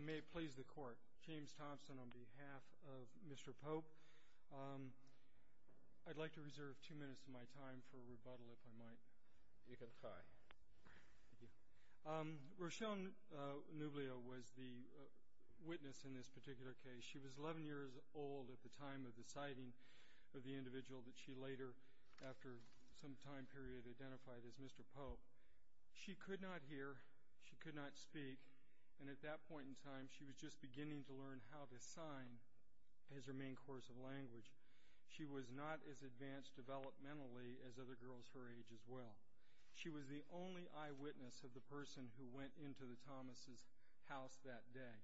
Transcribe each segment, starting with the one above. May it please the Court. James Thompson on behalf of Mr. Pope. I'd like to reserve two minutes of my time for rebuttal if I might. You can try. Rochelle Nublio was the witness in this particular case. She was 11 years old at the time of the sighting of the individual that she later, after some time period, identified as Mr. Pope. She could not hear, she could not speak, and at that point in time she was just beginning to learn how to sign as her main course of language. She was not as advanced developmentally as other girls her age as well. She was the only eyewitness of the person who went into the Thomas' house that day.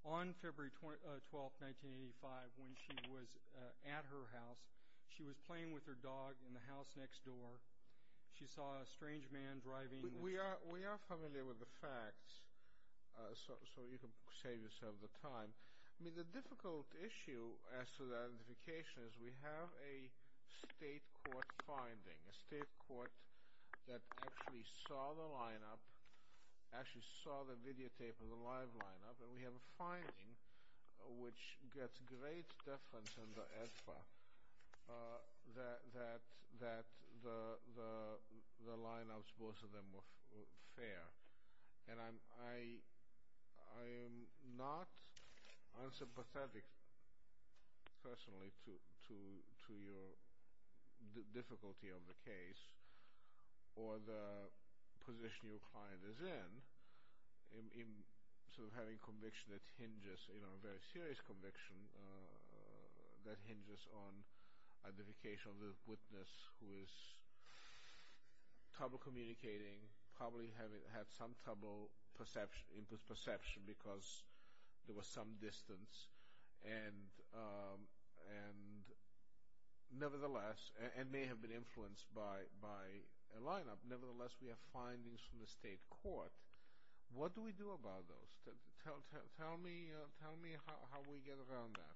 On February 12, 1985, when she was at her house, she was playing with her dog in the house next door. She saw a strange man driving... We are familiar with the facts, so you can save yourself the time. I mean, the difficult issue as to the identification is we have a state court finding, a state court that actually saw the lineup, actually saw the videotape of the live lineup, and we have a finding which gets great deference in the FA that the lineups, both of them, were fair. And I am not unsympathetic, personally, to your difficulty of the case, or the position your client is in, in sort of having conviction that hinges, you know, a very serious conviction that hinges on identification of the witness who is trouble communicating, probably had some trouble in perception because there was some distance, and nevertheless, and may have been influenced by a lineup, nevertheless, we have findings from the state court. What do we do about those? Tell me how we get around that.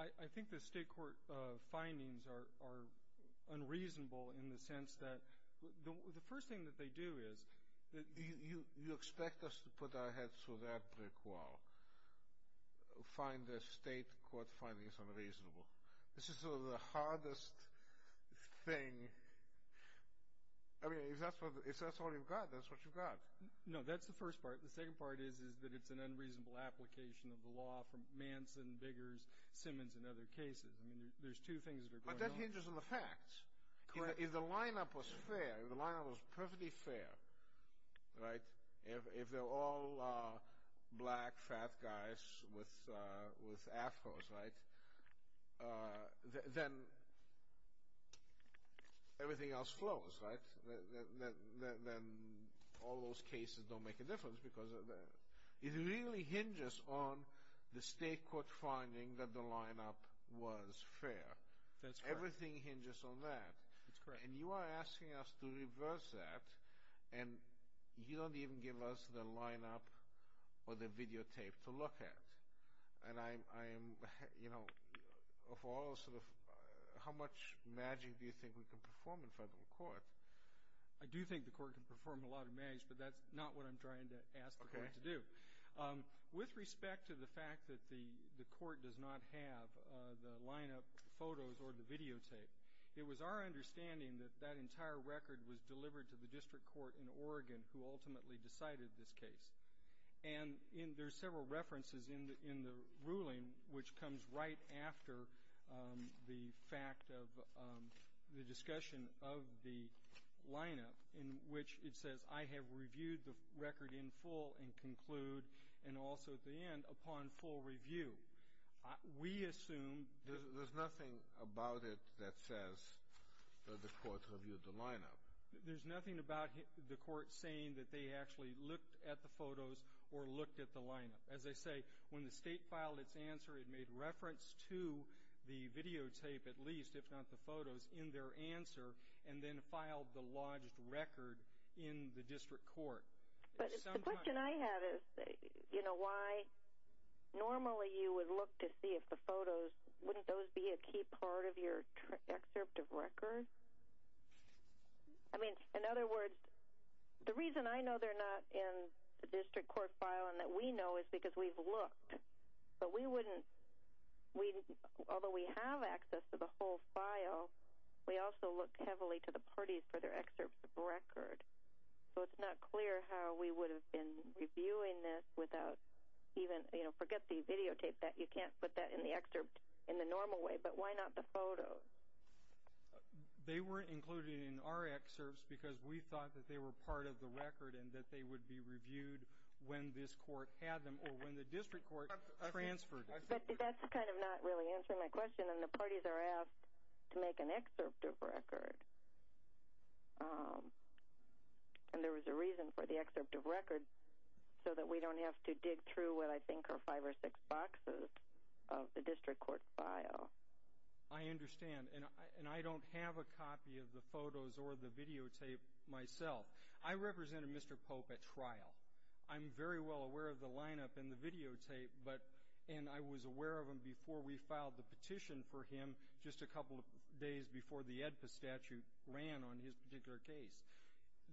I think the state court findings are unreasonable in the sense that the first thing that they do is... You expect us to put our heads through that brick wall, find the state court findings unreasonable. This is sort of the hardest thing. I mean, if that's all you've got, that's what you've got. No, that's the first part. The second part is that it's an unreasonable application of the law from Manson, Biggers, Simmons, and other cases. I mean, there's two things that are going on. But that hinges on the facts. If the lineup was fair, if the lineup was perfectly fair, right, if they're all black, fat guys with afros, right, then everything else flows, right? Then all those cases don't make a difference because it really hinges on the state court finding that the lineup was fair. Everything hinges on that. That's correct. And you are asking us to reverse that, and you don't even give us the lineup or the videotape to look at. How much magic do you think we can perform in federal court? I do think the court can perform a lot of magic, but that's not what I'm trying to ask the court to do. With respect to the fact that the court does not have the lineup photos or the videotape, it was our understanding that that entire record was delivered to the district court in Oregon, who ultimately decided this case. And there's several references in the ruling, which comes right after the fact of the discussion of the lineup, in which it says, I have reviewed the record in full and conclude, and also at the end, upon full review. We assume. There's nothing about it that says that the court reviewed the lineup. There's nothing about the court saying that they actually looked at the photos or looked at the lineup. As I say, when the state filed its answer, it made reference to the videotape, at least, if not the photos, in their answer, and then filed the lodged record in the district court. But the question I have is, you know, why normally you would look to see if the photos, wouldn't those be a key part of your excerpt of record? I mean, in other words, the reason I know they're not in the district court file and that we know is because we've looked, but we wouldn't, although we have access to the whole file, we also look heavily to the parties for their excerpts of record. So it's not clear how we would have been reviewing this without even, you know, forget the videotape, that you can't put that in the excerpt in the normal way, but why not the photos? They weren't included in our excerpts because we thought that they were part of the record and that they would be reviewed when this court had them or when the district court transferred them. But that's kind of not really answering my question. And the parties are asked to make an excerpt of record. And there was a reason for the excerpt of record, so that we don't have to dig through what I think are five or six boxes of the district court file. I understand. And I don't have a copy of the photos or the videotape myself. I represented Mr. Pope at trial. I'm very well aware of the lineup and the videotape, and I was aware of them before we filed the petition for him, just a couple of days before the AEDPA statute ran on his particular case.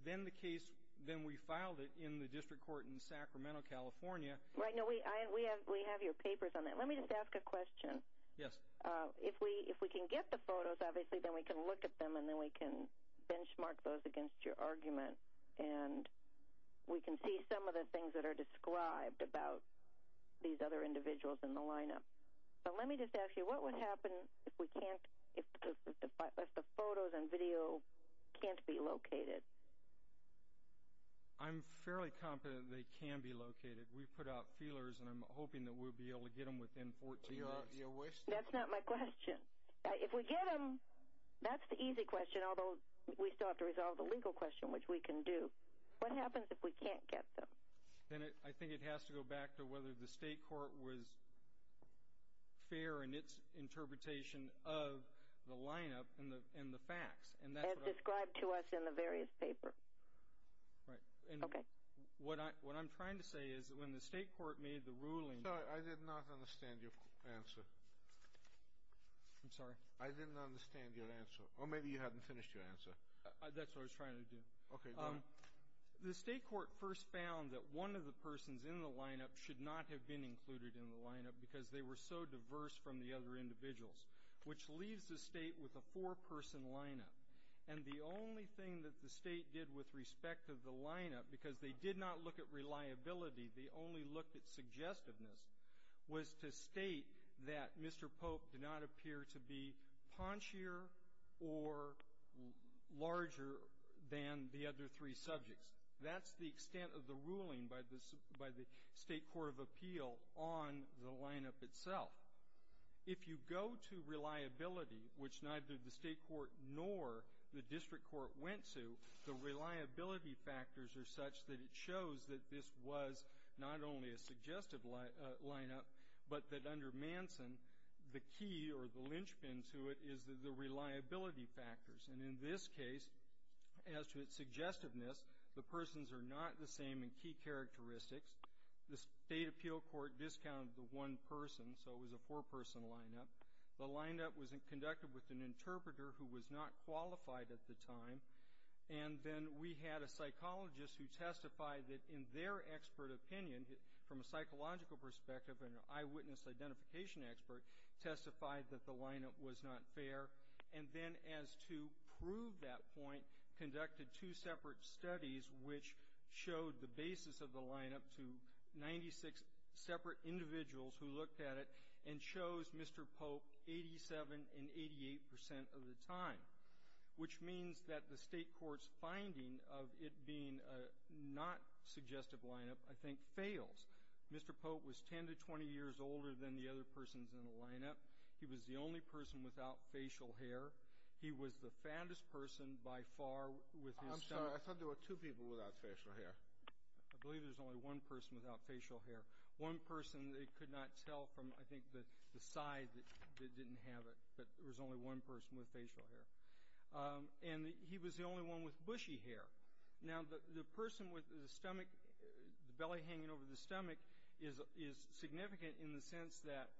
Then the case, then we filed it in the district court in Sacramento, California. Right. No, we have your papers on that. Let me just ask a question. Yes. If we can get the photos, obviously, then we can look at them, and then we can benchmark those against your argument. And we can see some of the things that are described about these other individuals in the lineup. But let me just ask you, what would happen if the photos and video can't be located? I'm fairly confident they can be located. We've put out feelers, and I'm hoping that we'll be able to get them within 14 days. So you wish? That's not my question. If we get them, that's the easy question, and although we still have to resolve the legal question, which we can do, what happens if we can't get them? I think it has to go back to whether the state court was fair in its interpretation of the lineup and the facts. As described to us in the various papers. Right. Okay. What I'm trying to say is that when the state court made the ruling Sorry, I did not understand your answer. I'm sorry. I didn't understand your answer. Or maybe you hadn't finished your answer. That's what I was trying to do. Okay, go ahead. The state court first found that one of the persons in the lineup should not have been included in the lineup because they were so diverse from the other individuals, which leaves the state with a four-person lineup. And the only thing that the state did with respect to the lineup, because they did not look at reliability, they only looked at suggestiveness, was to state that Mr. Pope did not appear to be paunchier or larger than the other three subjects. That's the extent of the ruling by the state court of appeal on the lineup itself. If you go to reliability, which neither the state court nor the district court went to, the reliability factors are such that it shows that this was not only a suggestive lineup, but that under Manson, the key or the linchpin to it is the reliability factors. And in this case, as to its suggestiveness, the persons are not the same in key characteristics. The state appeal court discounted the one person, so it was a four-person lineup. The lineup was conducted with an interpreter who was not qualified at the time, and then we had a psychologist who testified that in their expert opinion, from a psychological perspective and an eyewitness identification expert, testified that the lineup was not fair. And then as to prove that point, conducted two separate studies, which showed the basis of the lineup to 96 separate individuals who looked at it and chose Mr. Pope 87 and 88 percent of the time, which means that the state court's finding of it being a not suggestive lineup, I think, fails. Mr. Pope was 10 to 20 years older than the other persons in the lineup. He was the only person without facial hair. He was the fattest person by far with his stomach. I'm sorry. I thought there were two people without facial hair. I believe there's only one person without facial hair. One person they could not tell from, I think, the side that didn't have it, but there was only one person with facial hair. And he was the only one with bushy hair. Now, the person with the stomach, the belly hanging over the stomach, is significant in the sense that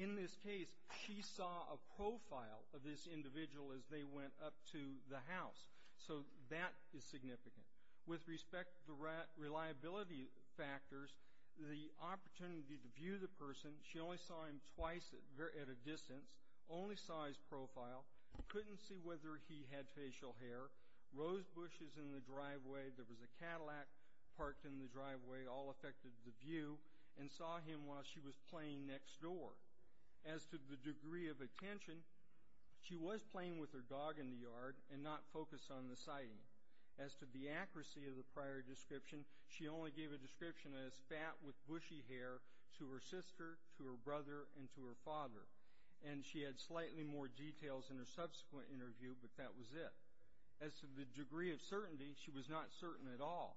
in this case she saw a profile of this individual as they went up to the house. So that is significant. With respect to reliability factors, the opportunity to view the person, she only saw him twice at a distance, only saw his profile, couldn't see whether he had facial hair. Rose Bush is in the driveway. There was a Cadillac parked in the driveway. All affected the view and saw him while she was playing next door. As to the degree of attention, she was playing with her dog in the yard and not focused on the sighting. As to the accuracy of the prior description, she only gave a description as fat with bushy hair to her sister, to her brother, and to her father. And she had slightly more details in her subsequent interview, but that was it. As to the degree of certainty, she was not certain at all.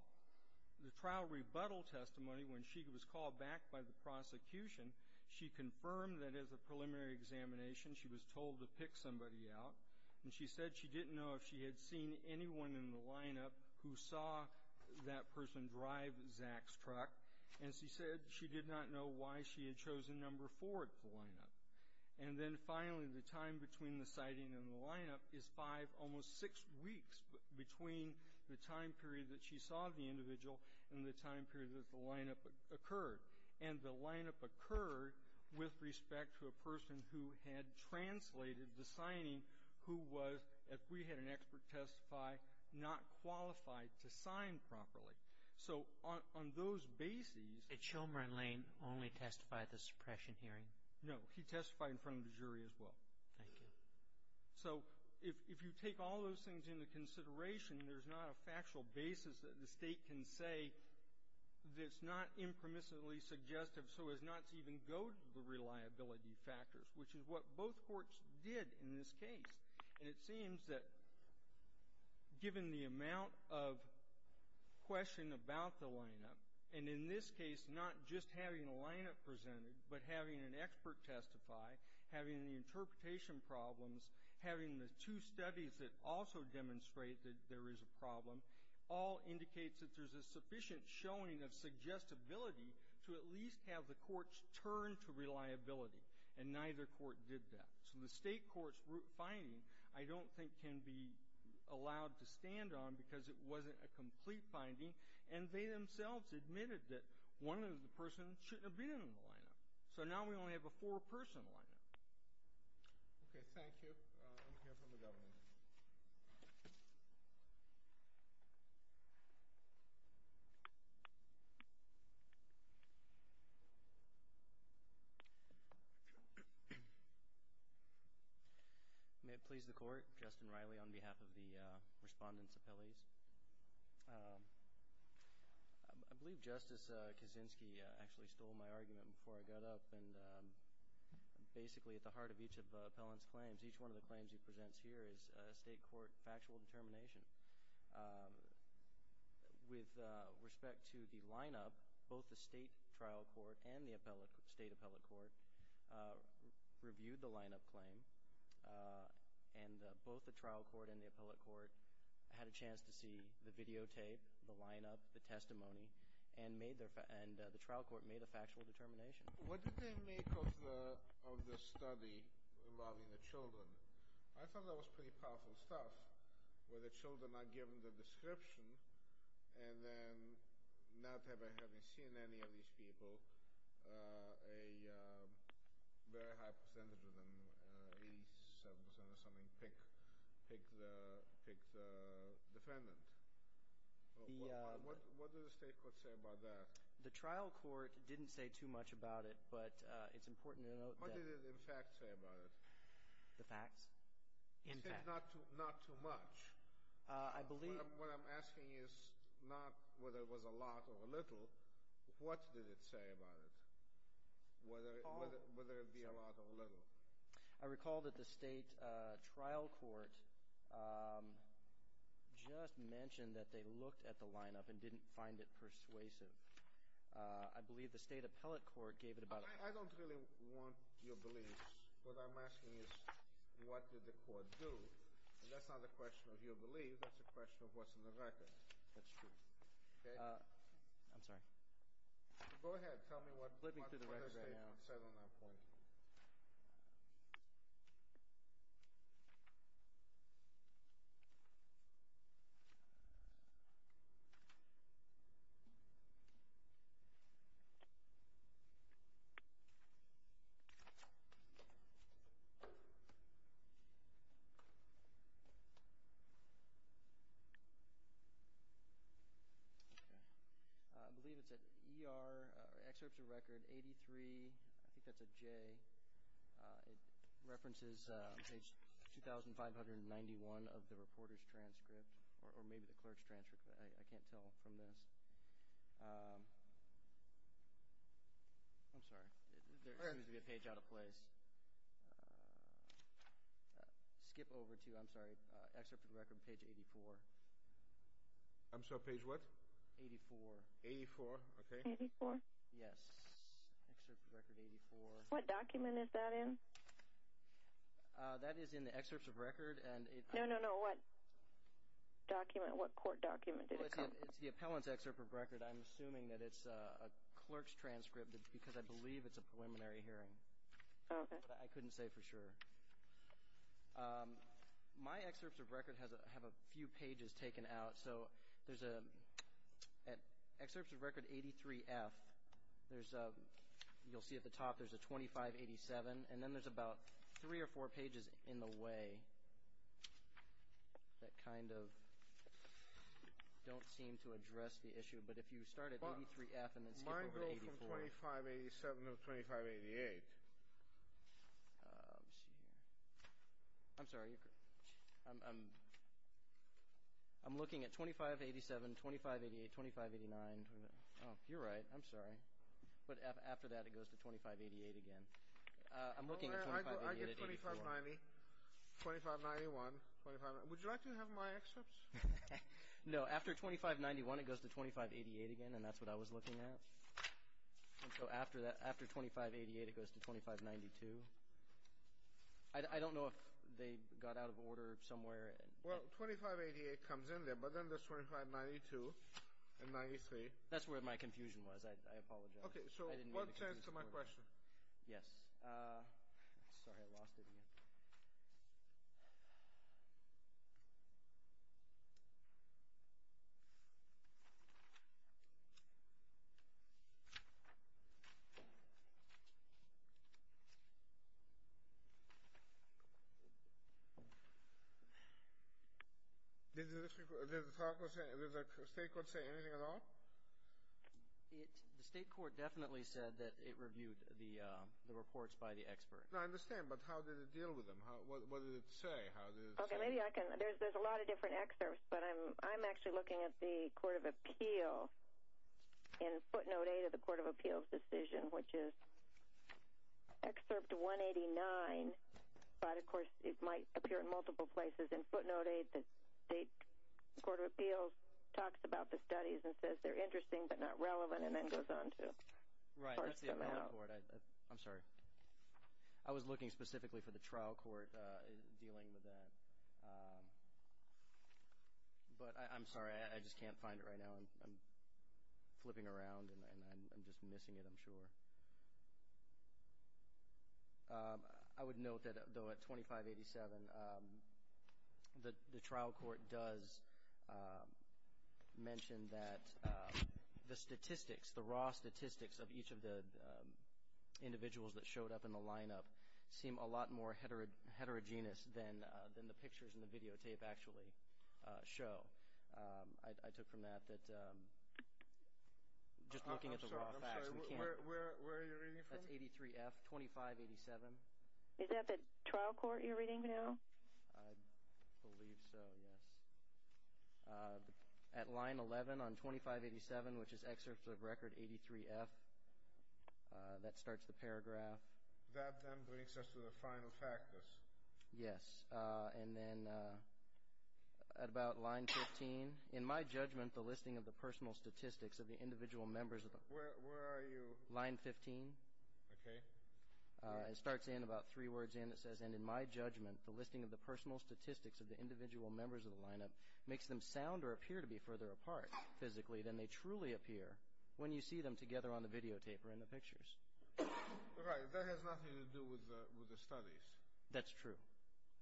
The trial rebuttal testimony when she was called back by the prosecution, she confirmed that as a preliminary examination she was told to pick somebody out. And she said she didn't know if she had seen anyone in the lineup who saw that person drive Zach's truck. And she said she did not know why she had chosen number four of the lineup. And then finally, the time between the sighting and the lineup is five, almost six weeks, between the time period that she saw the individual and the time period that the lineup occurred. And the lineup occurred with respect to a person who had translated the signing who was, if we had an expert testify, not qualified to sign properly. So on those bases —»» Did Shulman Lane only testify at the suppression hearing? »» No. He testified in front of the jury as well. »» Thank you. »» So if you take all those things into consideration, there's not a factual basis that the state can say that's not impermissibly suggestive so as not to even go to the reliability factors, which is what both courts did in this case. And it seems that given the amount of question about the lineup, and in this case not just having a lineup presented but having an expert testify, having the interpretation problems, having the two studies that also demonstrate that there is a problem, all indicates that there's a sufficient showing of suggestibility to at least have the courts turn to reliability. And neither court did that. So the state court's finding I don't think can be allowed to stand on because it wasn't a complete finding. And they themselves admitted that one of the persons shouldn't have been in the lineup. So now we only have a four-person lineup. »» Okay. Thank you. I'm going to hear from the governor. »» May it please the Court. Justin Riley on behalf of the Respondents' Appellees. I believe Justice Kaczynski actually stole my argument before I got up. And basically at the heart of each of Appellant's claims, each one of the claims he presents here is a state court factual determination. With respect to the lineup, both the state trial court and the state appellate court reviewed the lineup claim. And both the trial court and the appellate court had a chance to see the videotape, the lineup, the testimony, and the trial court made a factual determination. »» What did they make of the study involving the children? I thought that was pretty powerful stuff where the children are given the description and then not ever having seen any of these people, a very high percentage of them, 87% or something, pick the defendant. What did the state court say about that? »» The trial court didn't say too much about it. But it's important to note that. »» What did it in fact say about it? »» The facts? In fact? »» It said not too much. »» What I'm asking is not whether it was a lot or a little. What did it say about it? Whether it be a lot or a little? »» I recall that the state trial court just mentioned that they looked at the lineup and didn't find it persuasive. I believe the state appellate court gave it about a... »» I don't really want your beliefs. What I'm asking is what did the court do? And that's not a question of your beliefs. That's a question of what's in the record. »» That's true. »» Okay. »» I'm sorry. »» Go ahead. Tell me what the state court said on that point. »» I believe it's at ER, excerpts of record 83, I think that's a J. It references page 2,591 of the reporter's transcript or maybe the clerk's transcript. I can't tell from this. I'm sorry. There seems to be a page out of place. Skip over to, I'm sorry, excerpt of record page 84. »» I'm sorry, page what? »» 84. »» 84, okay. »» 84? »» Yes. »» What document is that in? »» That is in the excerpts of record. »» No, no, no. What court document? »» It's the appellant's excerpt of record. I'm assuming that it's a clerk's transcript because I believe it's a preliminary hearing. I couldn't say for sure. My excerpts of record have a few pages taken out. So there's an excerpt of record 83F. You'll see at the top there's a 2587. And then there's about three or four pages in the way that kind of don't seem to address the issue. But if you start at 83F and then skip over to 84. »» I'm looking from 2587 to 2588. »» I'm sorry. I'm looking at 2587, 2588, 2589. You're right. I'm sorry. But after that it goes to 2588 again. I'm looking at 2588 at 84. »» I get 2590, 2591. Would you like to have my excerpts? »» No. After 2591 it goes to 2588 again. And that's what I was looking at. So after 2588 it goes to 2592. I don't know if they got out of order somewhere. »» Well, 2588 comes in there. But then there's 2592 and 93. »» That's where my confusion was. I apologize. »» Okay. So what's my question? »» Yes. »» I'm sorry. I lost it again. »» Did the state court say anything at all? »» The state court definitely said that it reviewed the reports by the expert. »» I understand. But how did it deal with them? What did it say? »» Okay. Maybe I can. There's a lot of different excerpts. But I'm actually looking at the Court of Appeal in footnote 8 of the Court of Appeals decision, which is excerpt 189. But, of course, it might appear in multiple places. In footnote 8, the State Court of Appeals talks about the studies and says they're interesting but not relevant and then goes on to parse them out. »» I'm sorry. I was looking specifically for the trial court dealing with that. But I'm sorry. I just can't find it right now. I'm flipping around and I'm just missing it, I'm sure. I would note that, though, at 2587, the trial court does mention that the statistics, the raw statistics of each of the individuals that showed up in the lineup seem a lot more heterogeneous than the pictures in the videotape actually show. I took from that that just looking at the raw facts, we can't. »» Where are you reading from? »» That's 83F, 2587. »» Is that the trial court you're reading now? »» I believe so, yes. At line 11 on 2587, which is excerpt of record 83F, that starts the paragraph. »» That then brings us to the final factors. »» Yes. And then at about line 15, »» Where are you? »» Line 15. »» Okay. »» It starts in about three words and it says, and in my judgment the listing of the personal statistics of the individual members of the lineup makes them sound or appear to be further apart physically than they truly appear when you see them together on the videotape or in the pictures. »» Right. That has nothing to do with the studies. »» That's true.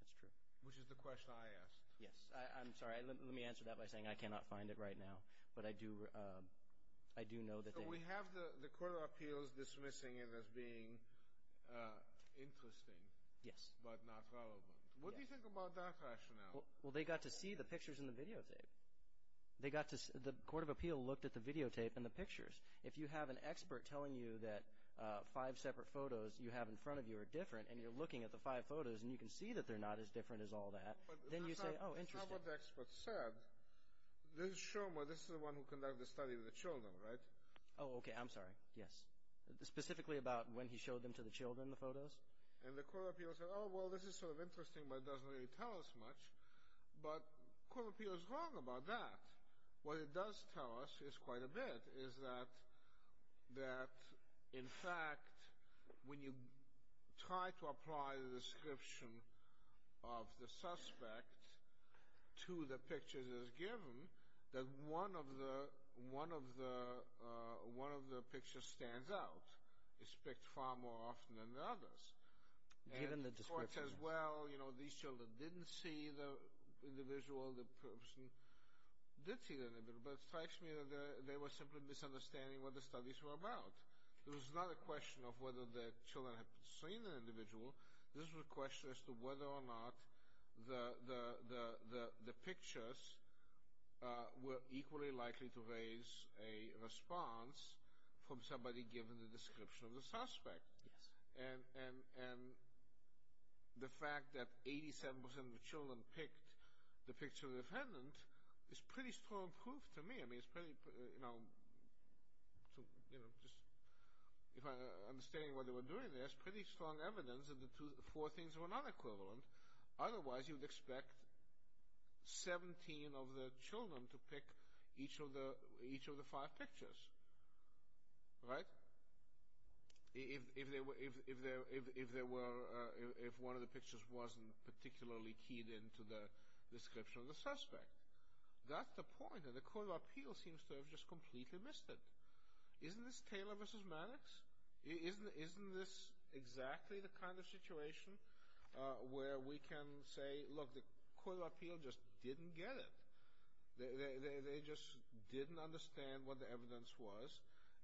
That's true. »» Which is the question I asked. »» Yes. I'm sorry. Let me answer that by saying I cannot find it right now. But I do know that they »» So we have the Court of Appeals dismissing it as being interesting. »» Yes. »» But not relevant. What do you think about that rationale? »» Well, they got to see the pictures in the videotape. The Court of Appeals looked at the videotape and the pictures. If you have an expert telling you that five separate photos you have in front of you are different and you're looking at the five photos and you can see that they're not as different as all that, then you say, oh, interesting. »» That's not what the expert said. This is Shomer. This is the one who conducted the study of the children, right? »» Oh, okay. I'm sorry. Yes. Specifically about when he showed them to the children, the photos? »» And the Court of Appeals said, oh, well, this is sort of interesting, but it doesn't really tell us much. But the Court of Appeals is wrong about that. What it does tell us is quite a bit. In fact, when you try to apply the description of the suspect to the picture that is given, that one of the pictures stands out. It's picked far more often than the others. And the Court says, well, these children didn't see the individual. The person did see the individual. But it strikes me that they were simply misunderstanding what the studies were about. It was not a question of whether the children had seen the individual. This was a question as to whether or not the pictures were equally likely to raise a response from somebody given the description of the suspect. And the fact that 87% of the children picked the picture of the defendant is pretty strong proof to me. I mean, it's pretty, you know, if I understand what they were doing there, it's pretty strong evidence that the four things were not equivalent. Otherwise, you would expect 17 of the children to pick each of the five pictures. Right? If one of the pictures wasn't particularly keyed into the description of the suspect. That's the point, and the Court of Appeal seems to have just completely missed it. Isn't this Taylor v. Mannix? Isn't this exactly the kind of situation where we can say, look, the Court of Appeal just didn't get it. They just didn't understand what the evidence was,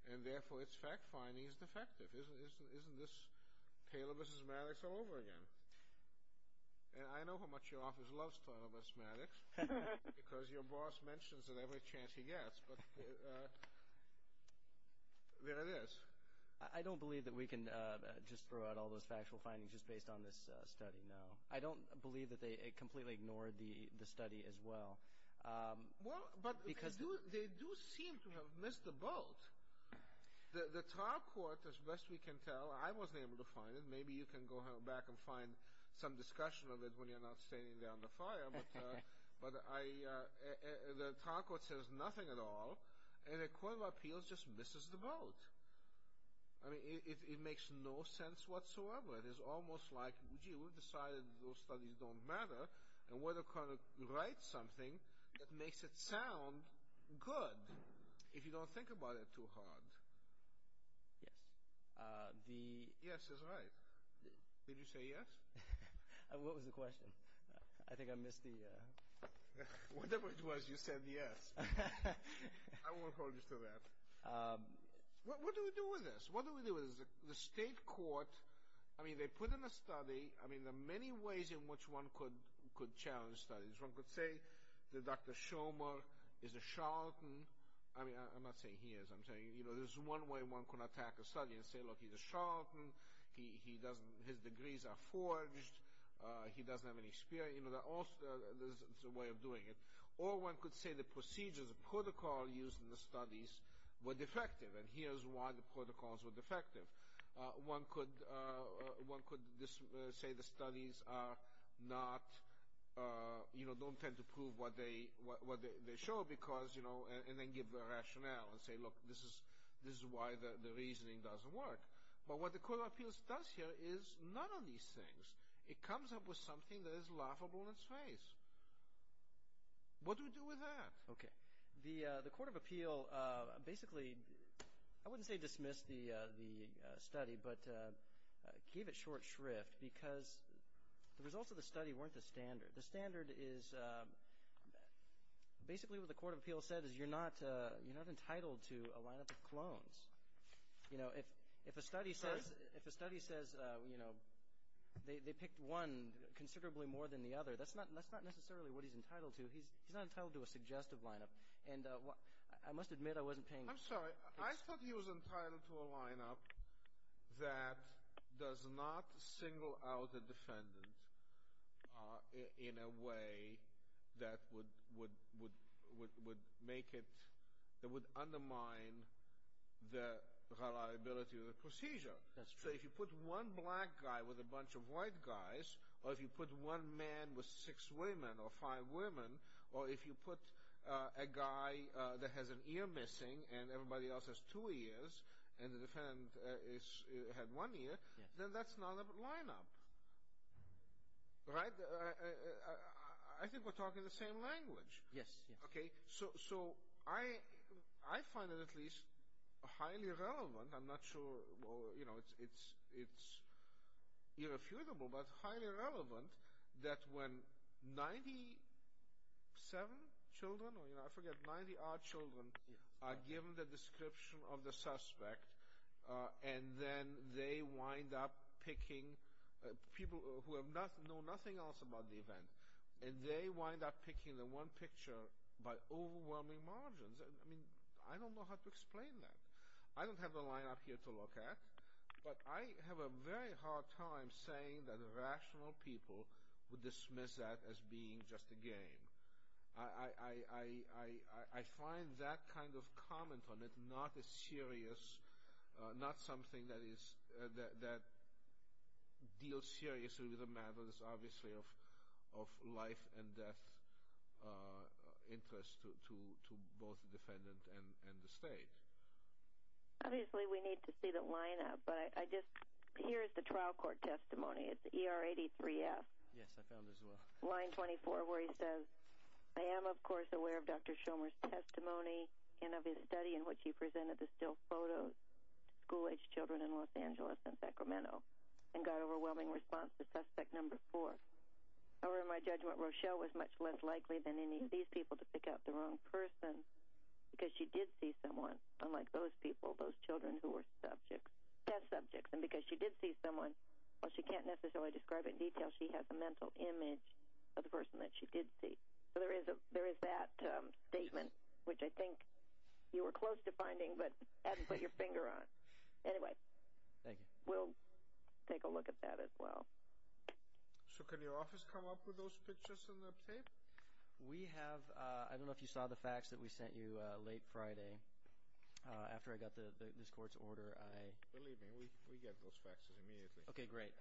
and therefore its fact finding is defective. Isn't this Taylor v. Mannix all over again? And I know how much your office loves Taylor v. Mannix, because your boss mentions it every chance he gets. But there it is. I don't believe that we can just throw out all those factual findings just based on this study, no. I don't believe that they completely ignored the study as well. Well, but they do seem to have missed the boat. The trial court, as best we can tell, I wasn't able to find it. Maybe you can go back and find some discussion of it when you're not standing there on the fire. But the trial court says nothing at all, and the Court of Appeal just misses the boat. I mean, it makes no sense whatsoever. It is almost like, gee, we've decided those studies don't matter, and we're going to write something that makes it sound good, if you don't think about it too hard. Yes. Yes is right. Did you say yes? What was the question? I think I missed the— Whatever it was, you said yes. I won't hold you to that. What do we do with this? What do we do with this? The state court, I mean, they put in a study. I mean, there are many ways in which one could challenge studies. One could say that Dr. Shomer is a charlatan. I mean, I'm not saying he is. There's one way one could attack a study and say, look, he's a charlatan. His degrees are forged. He doesn't have any experience. There's a way of doing it. Or one could say the procedures, the protocol used in the studies were defective, and here's why the protocols were defective. One could say the studies are not—you know, don't tend to prove what they show, and then give the rationale and say, look, this is why the reasoning doesn't work. But what the Court of Appeals does here is none of these things. It comes up with something that is laughable in its face. What do we do with that? Okay. The Court of Appeal basically—I wouldn't say dismissed the study, but gave it short shrift because the results of the study weren't the standard. The standard is—basically what the Court of Appeals said is you're not entitled to a lineup of clones. You know, if a study says, you know, they picked one considerably more than the other, that's not necessarily what he's entitled to. He's not entitled to a suggestive lineup. And I must admit I wasn't paying— I'm sorry. I thought he was entitled to a lineup that does not single out a defendant in a way that would make it— that would undermine the reliability of the procedure. So if you put one black guy with a bunch of white guys, or if you put one man with six women or five women, or if you put a guy that has an ear missing and everybody else has two ears, and the defendant had one ear, then that's not a lineup. Right? I think we're talking the same language. Yes. Okay. So I find it at least highly relevant. I'm not sure, you know, it's irrefutable, but highly relevant that when 97 children, or I forget, 90-odd children are given the description of the suspect, and then they wind up picking people who know nothing else about the event, and they wind up picking the one picture by overwhelming margins. I mean, I don't know how to explain that. I don't have a lineup here to look at, but I have a very hard time saying that rational people would dismiss that as being just a game. I find that kind of comment on it not a serious, not something that deals seriously with the matters, obviously, of life and death interest to both the defendant and the state. Obviously, we need to see the lineup, but I just, here is the trial court testimony. It's ER83F. Yes, I found it as well. Line 24 where he says, I am, of course, aware of Dr. Schomer's testimony and of his study in which he presented the still photos to school-age children in Los Angeles and Sacramento and got overwhelming response to suspect number four. However, in my judgment, Rochelle was much less likely than any of these people to pick out the wrong person because she did see someone, unlike those people, those children who were test subjects. And because she did see someone, while she can't necessarily describe it in detail, she has a mental image of the person that she did see. So there is that statement, which I think you were close to finding, but had to put your finger on. Anyway, we'll take a look at that as well. So can your office come up with those pictures and the tape? We have. I don't know if you saw the fax that we sent you late Friday after I got this court's order. Believe me, we get those faxes immediately. Okay, great.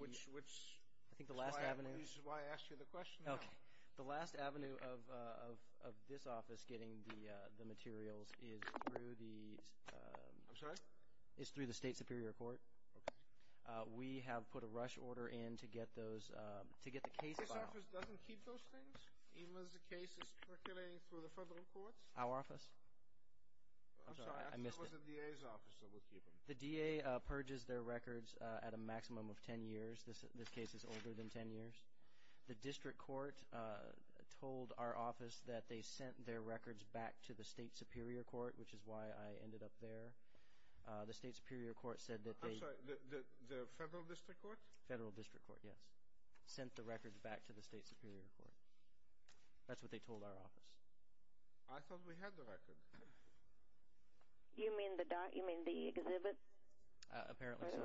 Which is why I asked you the question. Okay. The last avenue of this office getting the materials is through the State Superior Court. Okay. We have put a rush order in to get the case filed. This office doesn't keep those things, even as the case is percolating through the federal courts? Our office? I'm sorry, I missed it. It was the DA's office, so we'll keep them. The DA purges their records at a maximum of ten years. This case is older than ten years. The district court told our office that they sent their records back to the State Superior Court, which is why I ended up there. The State Superior Court said that they – I'm sorry, the federal district court? Federal district court, yes. Sent the records back to the State Superior Court. That's what they told our office. I thought we had the records. You mean the exhibits? Apparently so.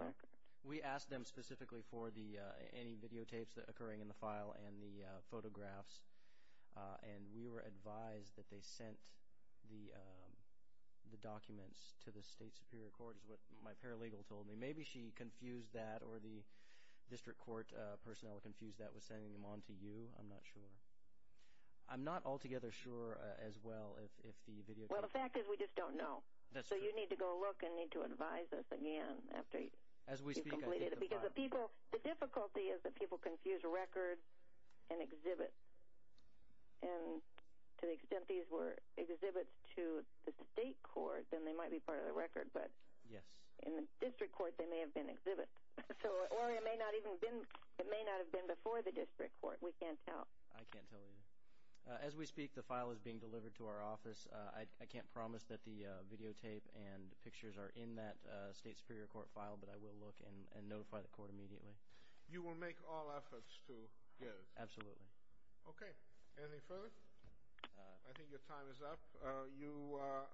We asked them specifically for any videotapes that are occurring in the file and the photographs, and we were advised that they sent the documents to the State Superior Court, is what my paralegal told me. Maybe she confused that or the district court personnel confused that with sending them on to you. I'm not sure. I'm not altogether sure as well if the videotapes – Well, the fact is we just don't know. That's true. So you need to go look and need to advise us again after you've completed it. As we speak, I did the file. Because the difficulty is that people confuse records and exhibits. And to the extent these were exhibits to the state court, then they might be part of the record. But in the district court, they may have been exhibits. Or it may not have been before the district court. We can't tell. I can't tell either. As we speak, the file is being delivered to our office. I can't promise that the videotape and pictures are in that State Superior Court file, but I will look and notify the court immediately. You will make all efforts to get it? Absolutely. Okay. Anything further? I think your time is up. You are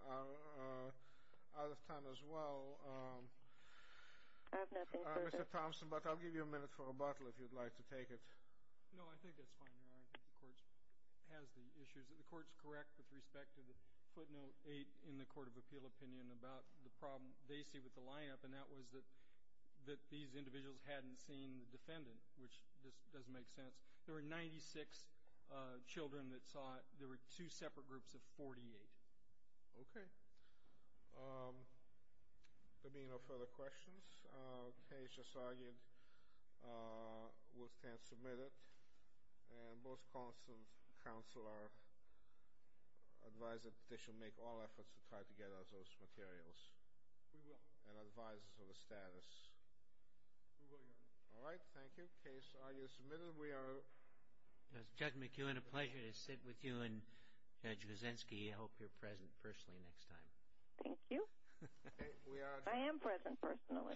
out of time as well, Mr. Thompson, but I'll give you a minute for a bottle if you'd like to take it. No, I think that's fine, Your Honor. I think the court has the issues. The court is correct with respect to the footnote 8 in the Court of Appeal opinion about the problem they see with the lineup, and that was that these individuals hadn't seen the defendant, which just doesn't make sense. There were 96 children that saw it. There were two separate groups of 48. Okay. There being no further questions, the case as argued will stand submitted, and both counsel are advised that they shall make all efforts to try to get us those materials. We will. And advise us of the status. We will, Your Honor. All right. Thank you. Case argued and submitted. Judge McEwen, a pleasure to sit with you, and Judge Kuczynski, I hope you're present personally next time. Thank you. I am present personally. Okay.